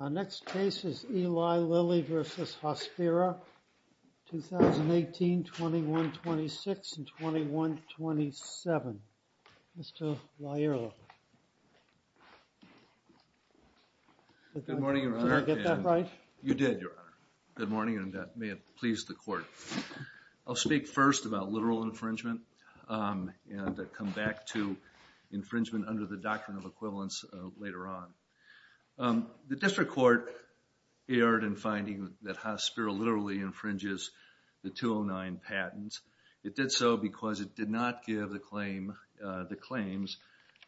Our next case is Eli Lilly v. Hospira, 2018, 21-26, and 21-27, New York, New York, New Mr. Lyell. Did I get that right? You did, Your Honor. Good morning and may it please the court. I'll speak first about literal infringement and come back to infringement under the doctrine of equivalence later on. The district court erred in finding that Hospira literally infringes the 209 patents. It did so because it did not give the claims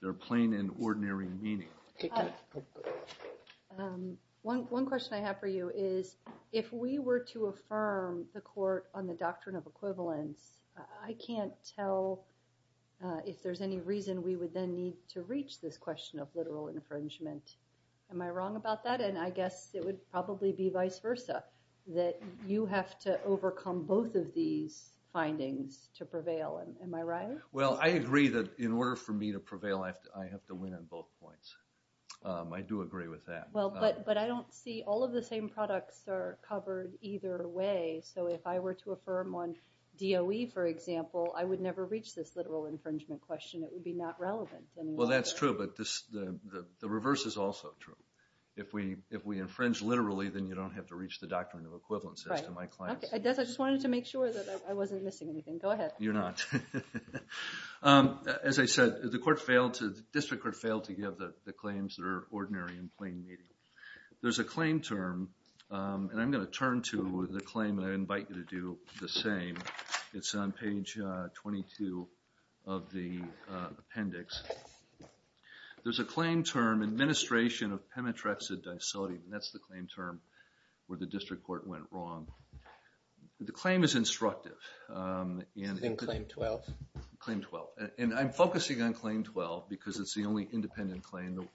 their plain and ordinary meaning. One question I have for you is if we were to affirm the court on the doctrine of equivalence, I can't tell if there's any reason we would then need to reach this question of literal infringement. Am I wrong about that? And I guess it would probably be vice versa, that you have to overcome both of these findings to prevail. Am I right? Well, I agree that in order for me to prevail, I have to win on both points. I do agree with that. But I don't see all of the same products are covered either way. So if I were to affirm on DOE, for example, I would never reach this literal infringement question. It would be not relevant. Well, that's true, but the reverse is also true. If we infringe literally, then you don't have to reach the doctrine of equivalence. I just wanted to make sure that I wasn't missing anything. Go ahead. You're not. As I said, the district court failed to give the claims their ordinary and plain meaning. There's a claim term, and I'm going to turn to the claim, and I invite you to do the same. It's on page 22 of the appendix. There's a claim term, administration of pemetrexid disodium, and that's the claim term where the district court went wrong. The claim is instructive. Then claim 12. Claim 12. And I'm focusing on claim 12 because it's the only independent claim that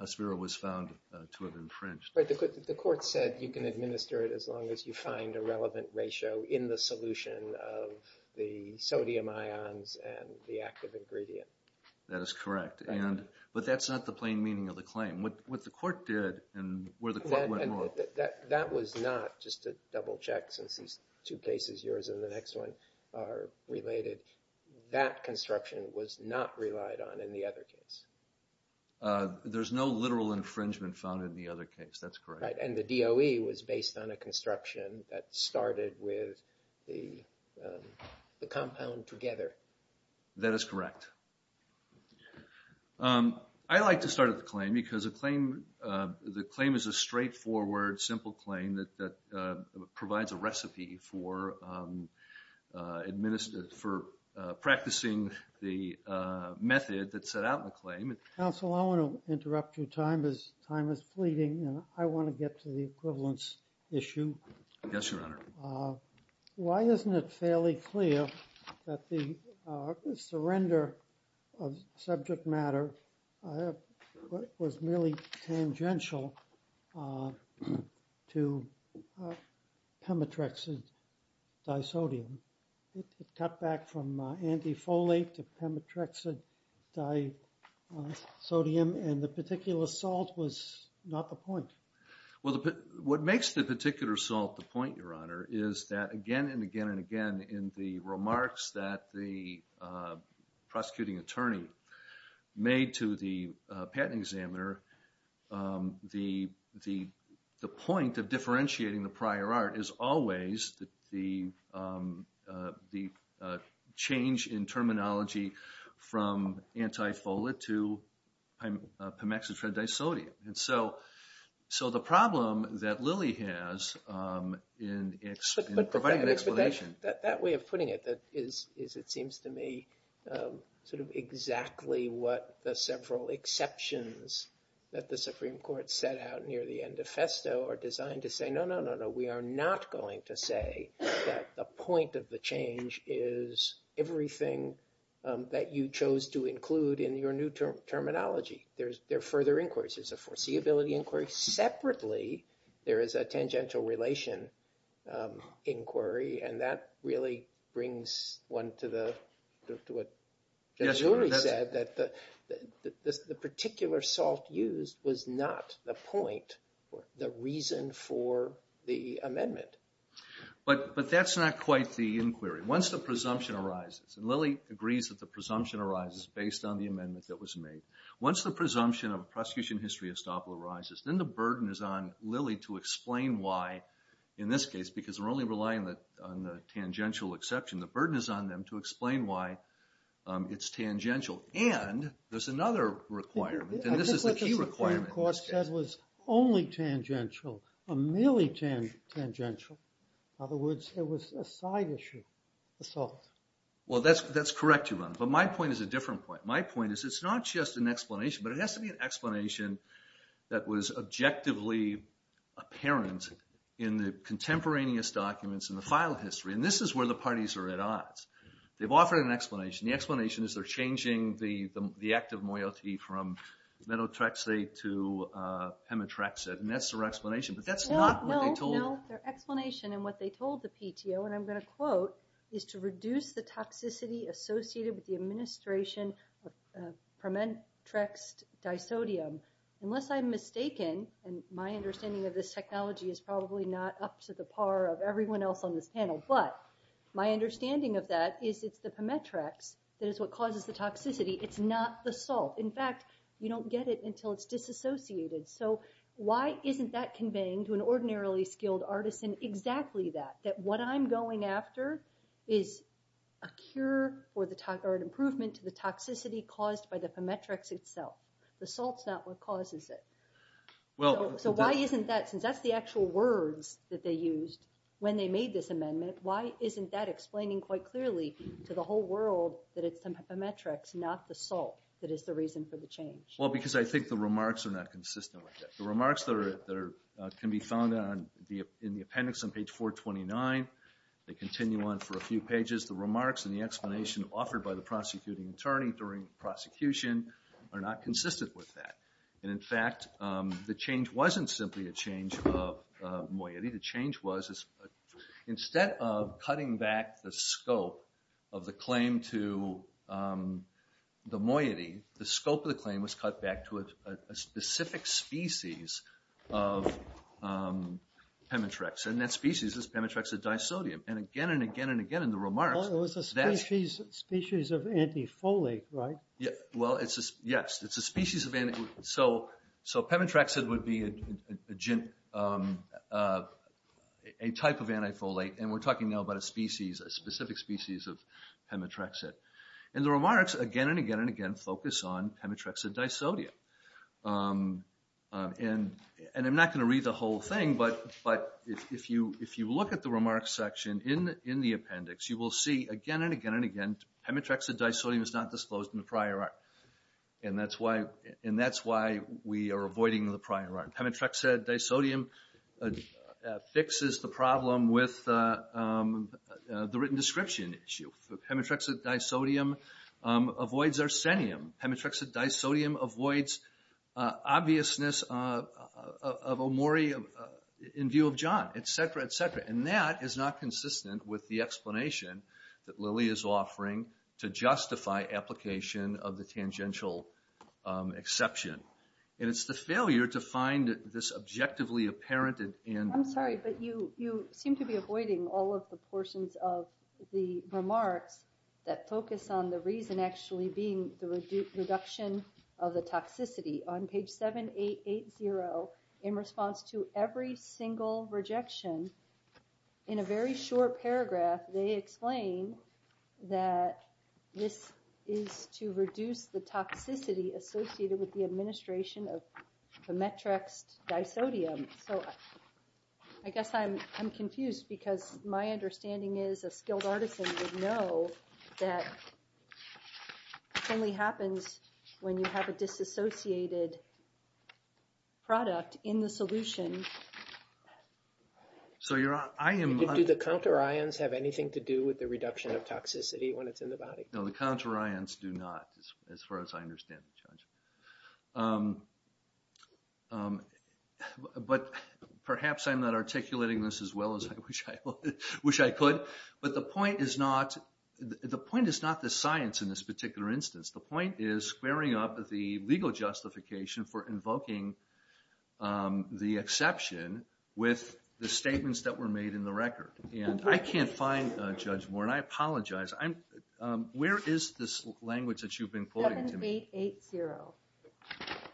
ASFIRO was found to have infringed. But the court said you can administer it as long as you find a relevant ratio in the solution of the sodium ions and the active ingredient. That is correct. But that's not the plain meaning of the claim. What the court did and where the court went wrong. That was not just a double check since these two cases, yours and the next one, are related. That construction was not relied on in the other case. There's no literal infringement found in the other case. That's correct. And the DOE was based on a construction that started with the compound together. That is correct. I like to start with the claim because the claim is a straightforward, simple claim that provides a recipe for practicing the method that's set out in the claim. Counsel, I want to interrupt you. Time is fleeting. I want to get to the equivalence issue. Yes, Your Honor. Why isn't it fairly clear that the surrender of subject matter was merely tangential to pemetrexid disodium? It cut back from antifolate to pemetrexid disodium and the particular salt was not the point. What makes the particular salt the point, Your Honor, is that again and again and again in the remarks that the prosecuting attorney made to the patent examiner, the point of differentiating the prior art is always the change in terminology from antifolate to pemetrexid disodium. So the problem that Lilly has in providing an explanation... But that way of putting it is, it seems to me, sort of exactly what the several exceptions that the Supreme Court set out near the end of Festo are designed to say, no, no, no, no, we are not going to say that the point of the change is everything that you chose to include in your new terminology. There are further inquiries. There's a foreseeability inquiry. Separately, there is a tangential relation inquiry and that really brings one to what the jury said, that the particular salt used was not the point or the reason for the amendment. But that's not quite the inquiry. Once the presumption arises, and Lilly agrees that the presumption arises based on the amendment that was made. Once the presumption of a prosecution history estoppel arises, then the burden is on Lilly to explain why, in this case, because we're only relying on the tangential exception. The burden is on them to explain why it's tangential. And there's another requirement, and this is the key requirement. I think what the Supreme Court said was only tangential or merely tangential. In other words, it was a side issue, the salt. Well, that's correct, but my point is a different point. My point is it's not just an explanation, but it has to be an explanation that was objectively apparent in the contemporaneous documents in the file history. And this is where the parties are at odds. They've offered an explanation. The explanation is they're changing the active moiety from metotrexate to hematrexate. And that's their explanation, but that's not what they told us. No, their explanation and what they told the PTO, and I'm going to quote, is to reduce the toxicity associated with the administration of permetrexed disodium. Unless I'm mistaken, and my understanding of this technology is probably not up to the par of everyone else on this panel, but my understanding of that is it's the permetrex that is what causes the toxicity. It's not the salt. In fact, you don't get it until it's disassociated. So why isn't that conveying to an ordinarily skilled artisan exactly that, what I'm going after is a cure or an improvement to the toxicity caused by the permetrex itself. The salt's not what causes it. So why isn't that, since that's the actual words that they used when they made this amendment, why isn't that explaining quite clearly to the whole world that it's the permetrex, not the salt, that is the reason for the change? Well, because I think the remarks are not consistent with it. The remarks that can be found in the appendix on page 429, they continue on for a few pages. The remarks and the explanation offered by the prosecuting attorney during prosecution are not consistent with that. And in fact, the change wasn't simply a change of moiety. The change was, instead of cutting back the scope of the claim to the moiety, the scope of the claim was cut back to a specific species of permetrex. And that species is permetrexid disodium. And again and again and again in the remarks... Well, it was a species of antifolate, right? Well, yes, it's a species of antifolate. So permetrexid would be a type of antifolate. And we're talking now about a species, a specific species of permetrexid. And the remarks again and again and again focus on permetrexid disodium. And I'm not going to read the whole thing, but if you look at the remarks section in the appendix, you will see again and again and again permetrexid disodium is not disclosed in the prior art. And that's why we are avoiding the prior art. Permetrexid disodium fixes the problem with the written description issue. Permetrexid disodium avoids arsenium. Permetrexid disodium avoids obviousness of amurium in view of John, et cetera, et cetera. And that is not consistent with the explanation that Lily is offering to justify application of the tangential exception. And it's the failure to find this objectively apparent. I'm sorry, but you seem to be avoiding all of the portions of the remarks that focus on the reason actually being the reduction of the toxicity. On page 7880, in response to every single rejection, in a very short paragraph, they explain that this is to reduce the toxicity associated with the administration of permetrex disodium. So I guess I'm confused because my understanding is a skilled artisan would know that it only happens when you have a disassociated product in the solution. So I am... Do the counter ions have anything to do with the reduction of toxicity when it's in the body? No, the counter ions do not, as far as I understand, Judge. But perhaps I'm not articulating this as well as I wish I could. But the point is not... The point is not the science in this particular instance. The point is squaring up the legal justification for invoking the exception with the statements that were made in the record. And I can't find, Judge Warren, I apologize. 7880.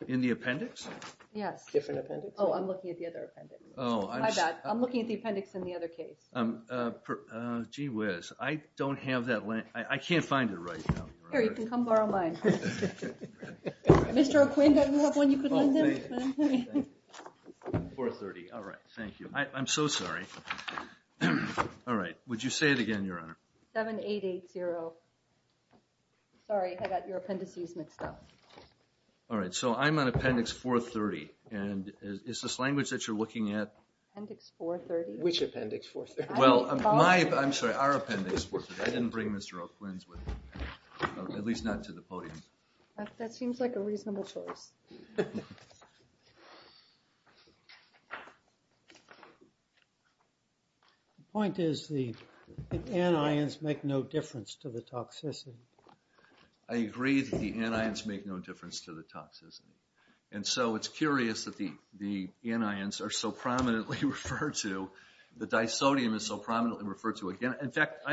In the appendix? Yes. Different appendix? Oh, I'm looking at the other appendix. My bad. I'm looking at the appendix in the other case. Gee whiz. I don't have that. I can't find it right now. Here, you can come borrow mine. Mr. McQueen, do you have one you could lend him? 430. All right. Thank you. I'm so sorry. All right. Would you say it again, Your Honor? 7880. Sorry, I got your appendices mixed up. All right. So I'm on appendix 430. And is this language that you're looking at? Appendix 430? Which appendix 430? Well, I'm sorry, our appendix 430. I didn't bring Mr. O'Quinn's with me. At least not to the podium. That seems like a reasonable choice. The point is the anions make no difference to the toxicity. I agree that the anions make no difference to the toxicity. And so it's curious that the anions are so prominently referred to, the disodium is so prominently referred to. In fact,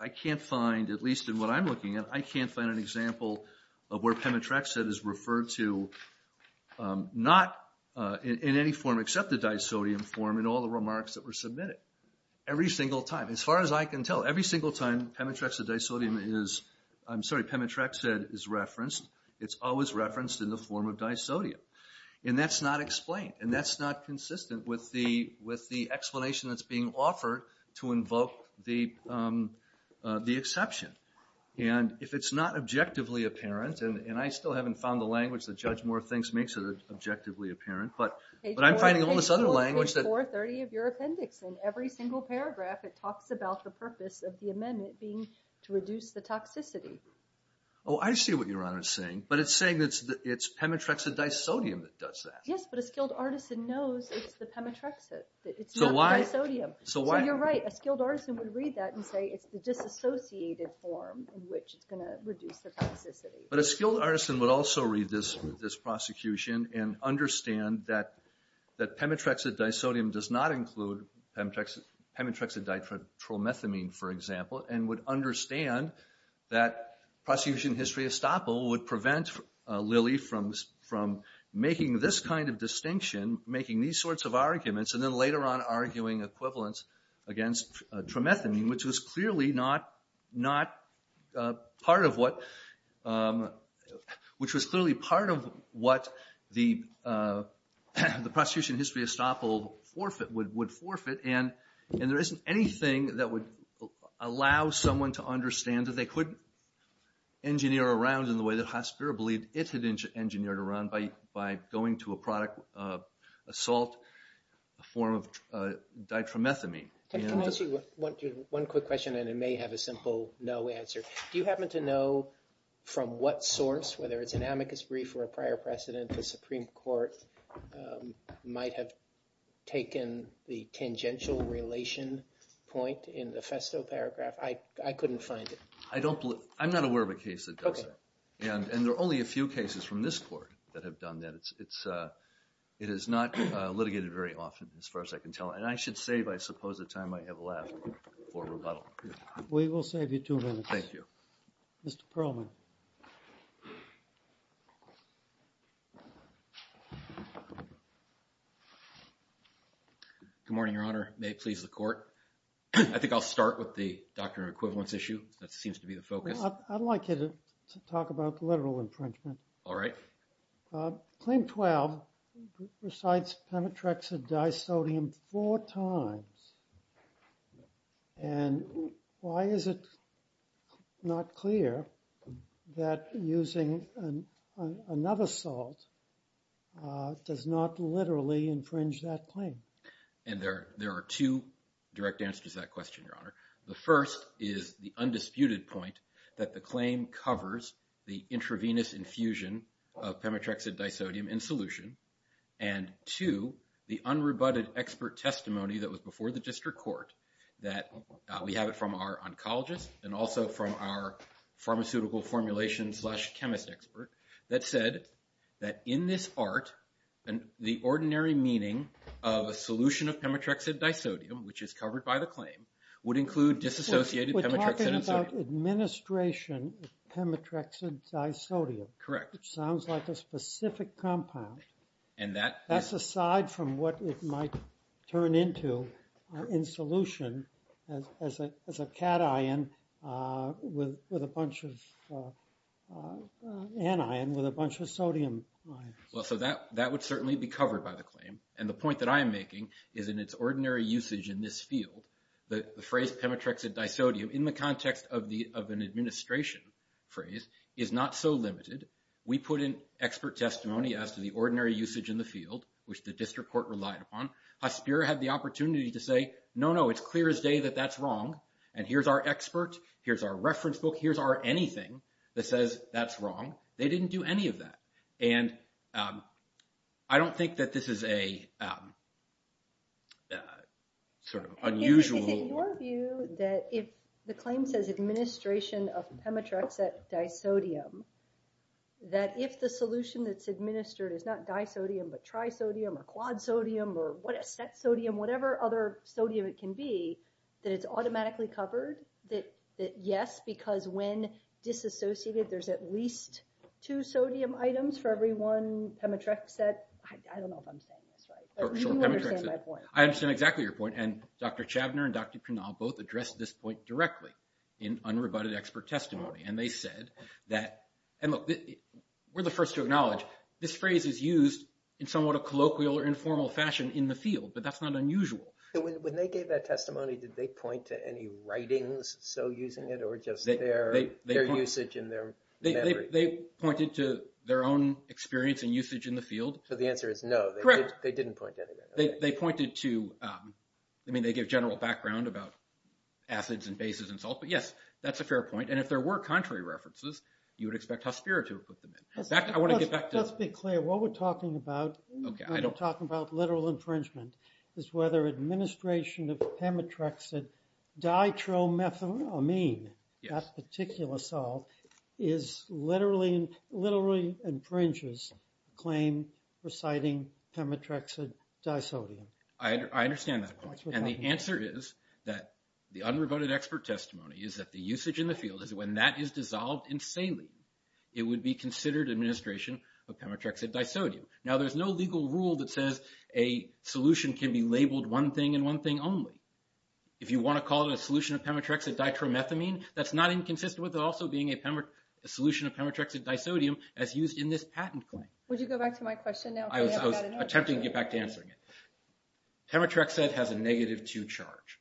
I can't find, at least in what I'm looking at, I can't find an example of where pemetrexid is referred to, not in any form except the disodium form in all the remarks that were submitted. Every single time, as far as I can tell, every single time pemetrexid disodium is, I'm sorry, pemetrexid is referenced, it's always referenced in the form of disodium. And that's not explained, and that's not consistent with the explanation that's being offered to invoke the exception. And if it's not objectively apparent, and I still haven't found the language that Judge Moore thinks makes it objectively apparent, but I'm finding all this other language that... In 430 of your appendix, in every single paragraph, it talks about the purpose of the amendment being to reduce the toxicity. Oh, I see what Your Honor is saying. But it's saying that it's pemetrexid disodium that does that. Yes, but a skilled artisan knows it's the pemetrexid. It's not the disodium. So you're right. A skilled artisan would read that and say it's the disassociated form in which it's going to reduce the toxicity. But a skilled artisan would also read this prosecution and understand that pemetrexid disodium does not include pemetrexid tromethamine, for example, and would understand that prosecution history estoppel would prevent Lilly from making this kind of distinction, making these sorts of arguments, and then later on arguing equivalence against tromethamine, which was clearly not part of what the prosecution history estoppel would forfeit, and there isn't anything that would allow someone to understand that they couldn't engineer around pemetrexid in the way that Hasbira believed it had engineered around by going to a product, a salt, a form of ditromethamine. Can I ask you one quick question, and it may have a simple no answer? Do you happen to know from what source, whether it's an amicus brief or a prior precedent, the Supreme Court might have taken the tangential relation point in the Festo paragraph? I couldn't find it. I'm not aware of a case that does that, and there are only a few cases from this court that have done that. It is not litigated very often as far as I can tell, and I should save, I suppose, the time I have left for rebuttal. We will save you two minutes. Thank you. Mr. Perlman. May it please the Court. I think I'll start with the doctrine of equivalence issue. That seems to be the focus. I'd like you to talk about the literal infringement. All right. Claim 12 recites pemetrexid disodium four times, and why is it not clear that using another salt does not literally infringe that claim? And there are two direct answers to that question, Your Honor. The first is the undisputed point that the claim covers the intravenous infusion of pemetrexid disodium in solution, and two, the unrebutted expert testimony that was before the district court that we have it from our oncologist and also from our pharmaceutical formulation slash chemist expert that said that in this art, the ordinary meaning of a solution of pemetrexid disodium, which is covered by the claim, would include disassociated pemetrexid and sodium. We're talking about administration of pemetrexid disodium. Correct. Which sounds like a specific compound. And that… That's aside from what it might turn into in solution as a cation with a bunch of anion with a bunch of sodium ions. Well, so that would certainly be covered by the claim. And the point that I am making is in its ordinary usage in this field, the phrase pemetrexid disodium, in the context of an administration phrase, is not so limited. We put in expert testimony as to the ordinary usage in the field, which the district court relied upon. Haspira had the opportunity to say, no, no, it's clear as day that that's wrong. And here's our expert. Here's our reference book. Here's our anything that says that's wrong. They didn't do any of that. And I don't think that this is a sort of unusual… Is it your view that if the claim says administration of pemetrexid disodium, that if the solution that's administered is not disodium but trisodium or quadsodium or what is that sodium, whatever other sodium it can be, that it's automatically covered? Yes, because when disassociated, there's at least two sodium items for every one pemetrexid. I don't know if I'm saying this right. But you understand my point. I understand exactly your point. And Dr. Chavner and Dr. Pranal both addressed this point directly in unrebutted expert testimony. And they said that… And look, we're the first to acknowledge this phrase is used in somewhat a colloquial or informal fashion in the field. But that's not unusual. When they gave that testimony, did they point to any writings? So using it or just their usage in their memory? They pointed to their own experience and usage in the field. So the answer is no. Correct. They didn't point to anything. They pointed to… I mean, they gave general background about acids and bases and salt. But, yes, that's a fair point. And if there were contrary references, you would expect Hospir to have put them in. I want to get back to… Just be clear. What we're talking about… Okay, I don't… When we're talking about literal infringement is whether administration of pemetrexid ditromethamine, that particular salt, is literally… literally infringes claim reciting pemetrexid disodium. I understand that. And the answer is that the unrebutted expert testimony is that the usage in the field is So when that is dissolved in saline, it would be considered administration of pemetrexid disodium. Now, there's no legal rule that says a solution can be labeled one thing and one thing only. If you want to call it a solution of pemetrexid ditromethamine, that's not inconsistent with it also being a solution of pemetrexid disodium as used in this patent claim. Would you go back to my question now? I was attempting to get back to answering it. Pemetrexid has a negative two charge.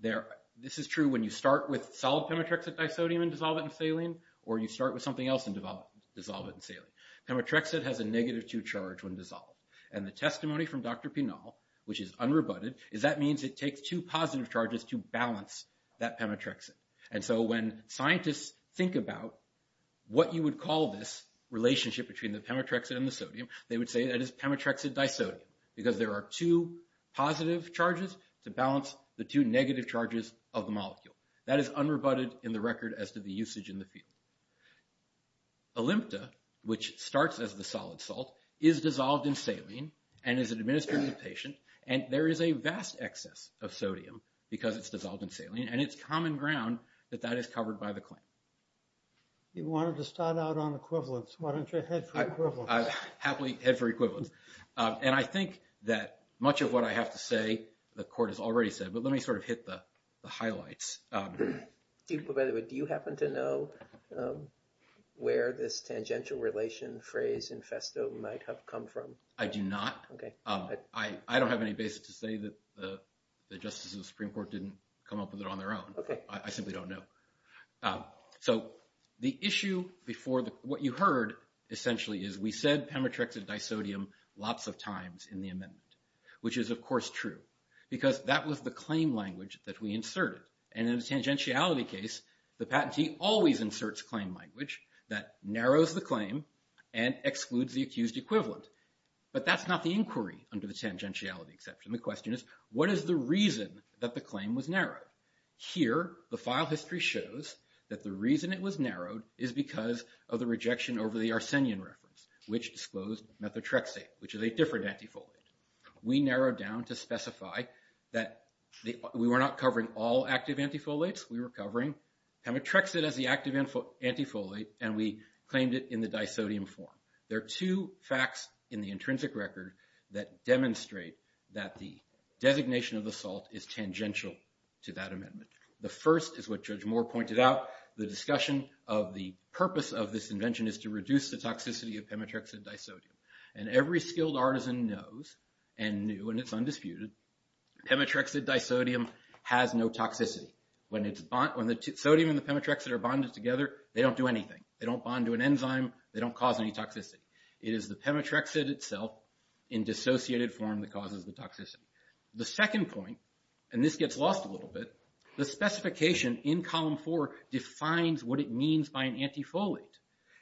This is true when you start with solid pemetrexid disodium and dissolve it in saline or you start with something else and dissolve it in saline. Pemetrexid has a negative two charge when dissolved. And the testimony from Dr. Pinal, which is unrebutted, is that means it takes two positive charges to balance that pemetrexid. And so when scientists think about what you would call this relationship between the pemetrexid and the sodium, they would say that it's pemetrexid disodium because there are two positive charges to balance the two negative charges of the molecule. That is unrebutted in the record as to the usage in the field. Olympta, which starts as the solid salt, is dissolved in saline and is administered in the patient. And there is a vast excess of sodium because it's dissolved in saline. And it's common ground that that is covered by the claim. You wanted to start out on equivalence. Why don't you head for equivalence? I happily head for equivalence. And I think that much of what I have to say, the court has already said, but let me sort of hit the highlights. By the way, do you happen to know where this tangential relation phrase infesto might have come from? I do not. I don't have any basis to say that the justices of the Supreme Court didn't come up with it on their own. I simply don't know. So the issue before what you heard essentially is we said Pemetrex and disodium lots of times in the amendment, which is, of course, true because that was the claim language that we inserted. And in the tangentiality case, the patentee always inserts claim language that narrows the claim and excludes the accused equivalent. But that's not the inquiry under the tangentiality exception. The question is, what is the reason that the claim was narrowed? Here, the file history shows that the reason it was narrowed is because of the rejection over the Arsenian reference, which disclosed methotrexate, which is a different antifoliate. We narrowed down to specify that we were not covering all active antifoliates. We were covering Pemetrexate as the active antifoliate, and we claimed it in the disodium form. There are two facts in the intrinsic record that demonstrate that the designation of the salt is tangential to that amendment. The first is what Judge Moore pointed out. The discussion of the purpose of this invention is to reduce the toxicity of Pemetrexate disodium. And every skilled artisan knows and knew, and it's undisputed, Pemetrexate disodium has no toxicity. When the sodium and the Pemetrexate are bonded together, they don't do anything. They don't bond to an enzyme. They don't cause any toxicity. It is the Pemetrexate itself in dissociated form that causes the toxicity. The second point, and this gets lost a little bit, the specification in column four defines what it means by an antifoliate.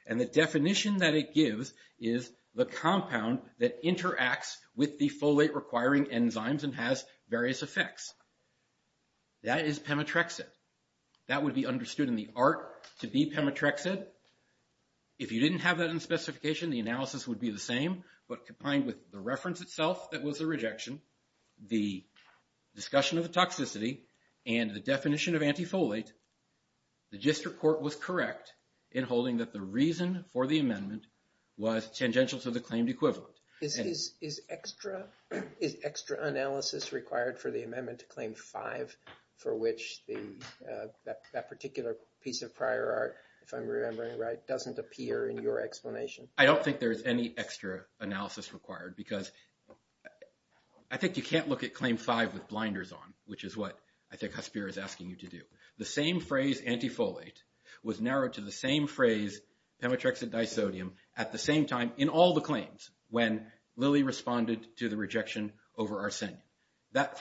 And the definition that it gives is the compound that interacts with the folate requiring enzymes and has various effects. That is Pemetrexate. That would be understood in the art to be Pemetrexate. If you didn't have that in the specification, the analysis would be the same. But combined with the reference itself that was a rejection, the discussion of the toxicity, and the definition of antifoliate, the district court was correct in holding that the reason for the amendment was tangential to the claimed equivalent. Is extra analysis required for the amendment to claim five for which that particular piece of prior art, if I'm remembering right, doesn't appear in your explanation? I don't think there's any extra analysis required because I think you can't look at claim five with blinders on, which is what I think Hasbir is asking you to do. The same phrase, antifoliate, was narrowed to the same phrase, Pemetrexate disodium, at the same time in all the claims when Lilly responded to the rejection over Arsenium. As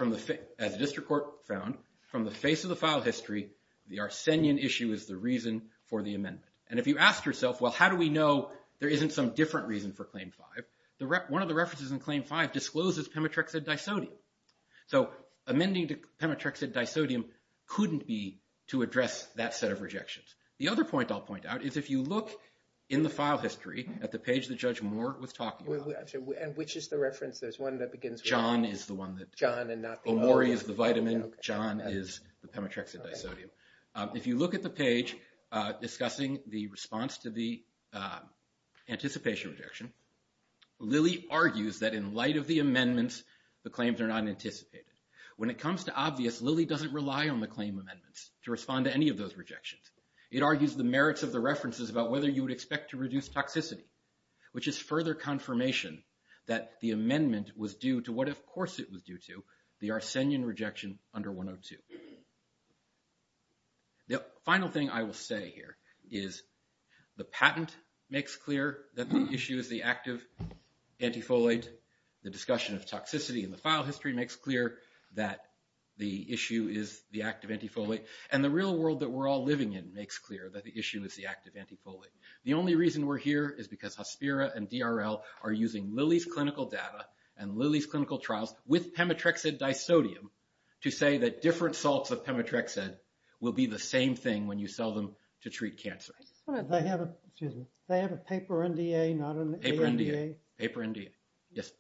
the district court found, from the face of the file history, the Arsenium issue is the reason for the amendment. And if you ask yourself, well, how do we know there isn't some different reason for claim five? One of the references in claim five discloses Pemetrexate disodium. So amending to Pemetrexate disodium couldn't be to address that set of rejections. The other point I'll point out is if you look in the file history at the page that Judge Moore was talking about. And which is the reference? There's one that begins with John and not the other. Omori is the vitamin. John is the Pemetrexate disodium. If you look at the page discussing the response to the anticipation rejection, Lilly argues that in light of the amendments, the claims are not anticipated. When it comes to obvious, Lilly doesn't rely on the claim amendments to respond to any of those rejections. It argues the merits of the references about whether you would expect to reduce toxicity, which is further confirmation that the amendment was due to what, of course, it was due to, the Arsenium rejection under 102. The final thing I will say here is the patent makes clear that the issue is the active antifoliate. The discussion of toxicity in the file history makes clear that the issue is the active antifoliate. And the real world that we're all living in makes clear that the issue is the active antifoliate. The only reason we're here is because Hospira and DRL are using Lilly's clinical data and Lilly's clinical trials with Pemetrexate disodium to say that different salts of Pemetrexate will be the same thing when you sell them to treat cancer. They have a paper NDA, not an AMDA? Paper NDA, yes.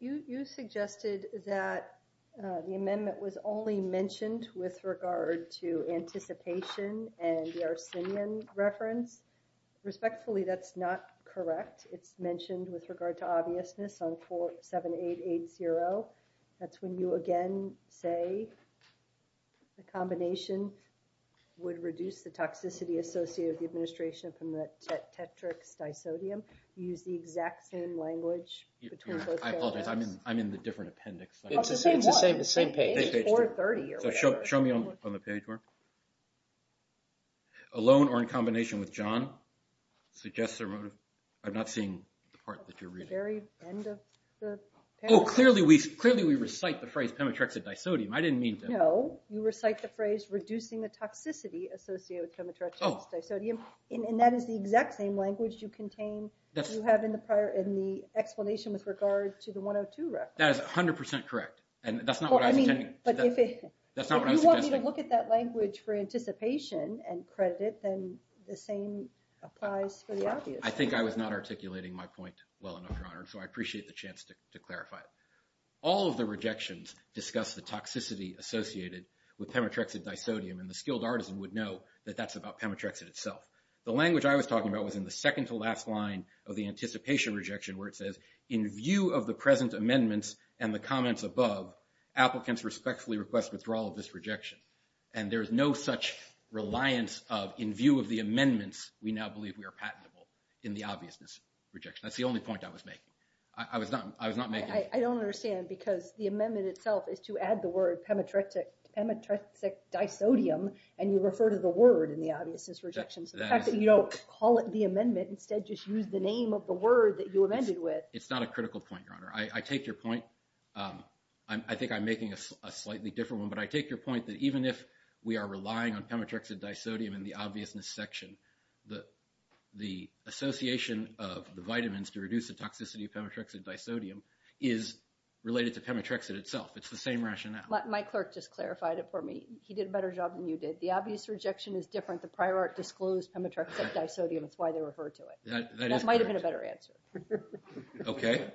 You suggested that the amendment was only mentioned with regard to anticipation and the Arsenium reference. Respectfully, that's not correct. It's mentioned with regard to obviousness on 47880. That's when you again say the combination would reduce the toxicity associated with the administration from the Tetrax disodium. You use the exact same language between both paragraphs. I apologize, I'm in the different appendix. It's the same page. Show me on the page, Mark. Alone or in combination with John? I'm not seeing the part that you're reading. Clearly we recite the phrase Pemetrexate disodium. I didn't mean to. No, you recite the phrase reducing the toxicity associated with Pemetrexate disodium. That is the exact same language you contain in the explanation with regard to the 102 reference. That is 100% correct. If you want me to look at that language for anticipation and credit it, then the same applies for the obvious. I think I was not articulating my point well enough, Your Honor, so I appreciate the chance to clarify it. All of the rejections discuss the toxicity associated with Pemetrexate disodium, and the skilled artisan would know that that's about Pemetrexate itself. The language I was talking about was in the second-to-last line of the anticipation rejection where it says, in view of the present amendments and the comments above, applicants respectfully request withdrawal of this rejection. And there is no such reliance of, in view of the amendments, we now believe we are patentable in the obviousness rejection. That's the only point I was making. I was not making it. I don't understand because the amendment itself is to add the word Pemetrexate disodium, and you refer to the word in the obviousness rejection. So the fact that you don't call it the amendment, instead just use the name of the word that you amended with. It's not a critical point, Your Honor. I take your point. I think I'm making a slightly different one. But I take your point that even if we are relying on Pemetrexate disodium in the obviousness section, the association of the vitamins to reduce the toxicity of Pemetrexate disodium is related to Pemetrexate itself. It's the same rationale. My clerk just clarified it for me. He did a better job than you did. The obvious rejection is different. The prior art disclosed Pemetrexate disodium. That's why they referred to it. That might have been a better answer. Okay.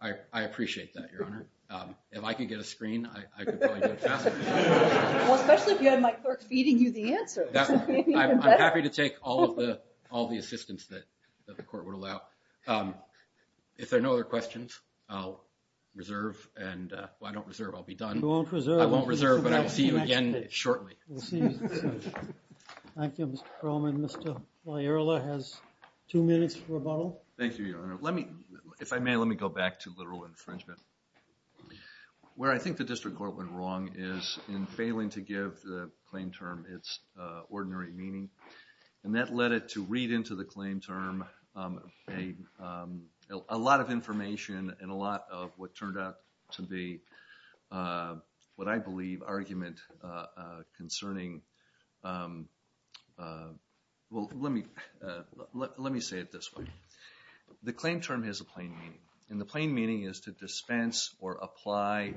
I appreciate that, Your Honor. If I could get a screen, I could probably do it faster. Well, especially if you had my clerk feeding you the answer. I'm happy to take all the assistance that the court would allow. If there are no other questions, I'll reserve. Well, I don't reserve. I'll be done. You won't reserve. I won't reserve, but I will see you again shortly. We'll see you soon. Thank you, Mr. Perlman. And Mr. Malayula has two minutes for rebuttal. Thank you, Your Honor. If I may, let me go back to literal infringement. Where I think the district court went wrong is in failing to give the claim term its ordinary meaning. And that led it to read into the claim term a lot of information and a lot of what turned out to be what I believe argument concerning, well, let me say it this way. The claim term has a plain meaning. And the plain meaning is to dispense or apply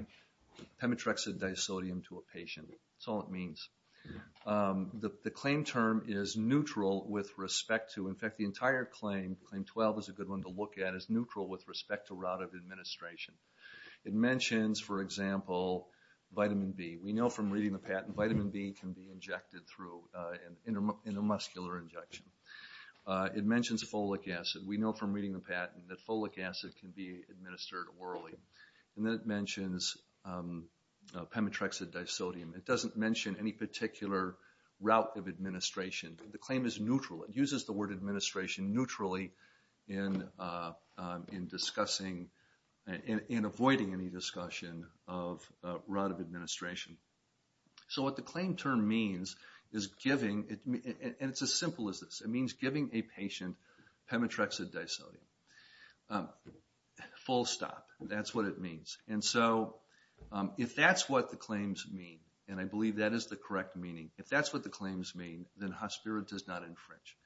Pemetrexid disodium to a patient. That's all it means. The claim term is neutral with respect to, in fact, the entire claim, Claim 12 is a good one to look at, is neutral with respect to route of administration. It mentions, for example, vitamin B. We know from reading the patent, vitamin B can be injected through an intermuscular injection. It mentions folic acid. We know from reading the patent that folic acid can be administered orally. And then it mentions Pemetrexid disodium. It doesn't mention any particular route of administration. The claim is neutral. It uses the word administration neutrally in discussing and avoiding any discussion of route of administration. So what the claim term means is giving, and it's as simple as this, it means giving a patient Pemetrexid disodium. Full stop. That's what it means. And so if that's what the claims mean, and I believe that is the correct meaning, if that's what the claims mean, then Hospirin does not infringe.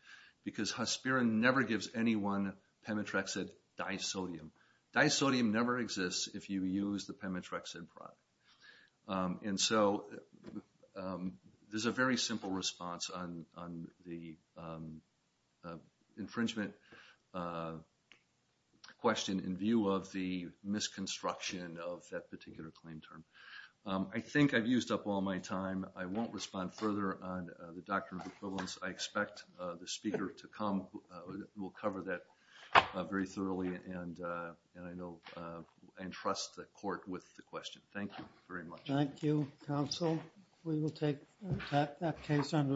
Because Hospirin never gives anyone Pemetrexid disodium. Disodium never exists if you use the Pemetrexid product. And so there's a very simple response on the infringement question in view of the misconstruction of that particular claim term. I think I've used up all my time. I won't respond further on the doctrine of equivalence. I expect the speaker to come, will cover that very thoroughly, and I know entrust the court with the question. Thank you very much. Thank you, counsel. We will take that case under advisement.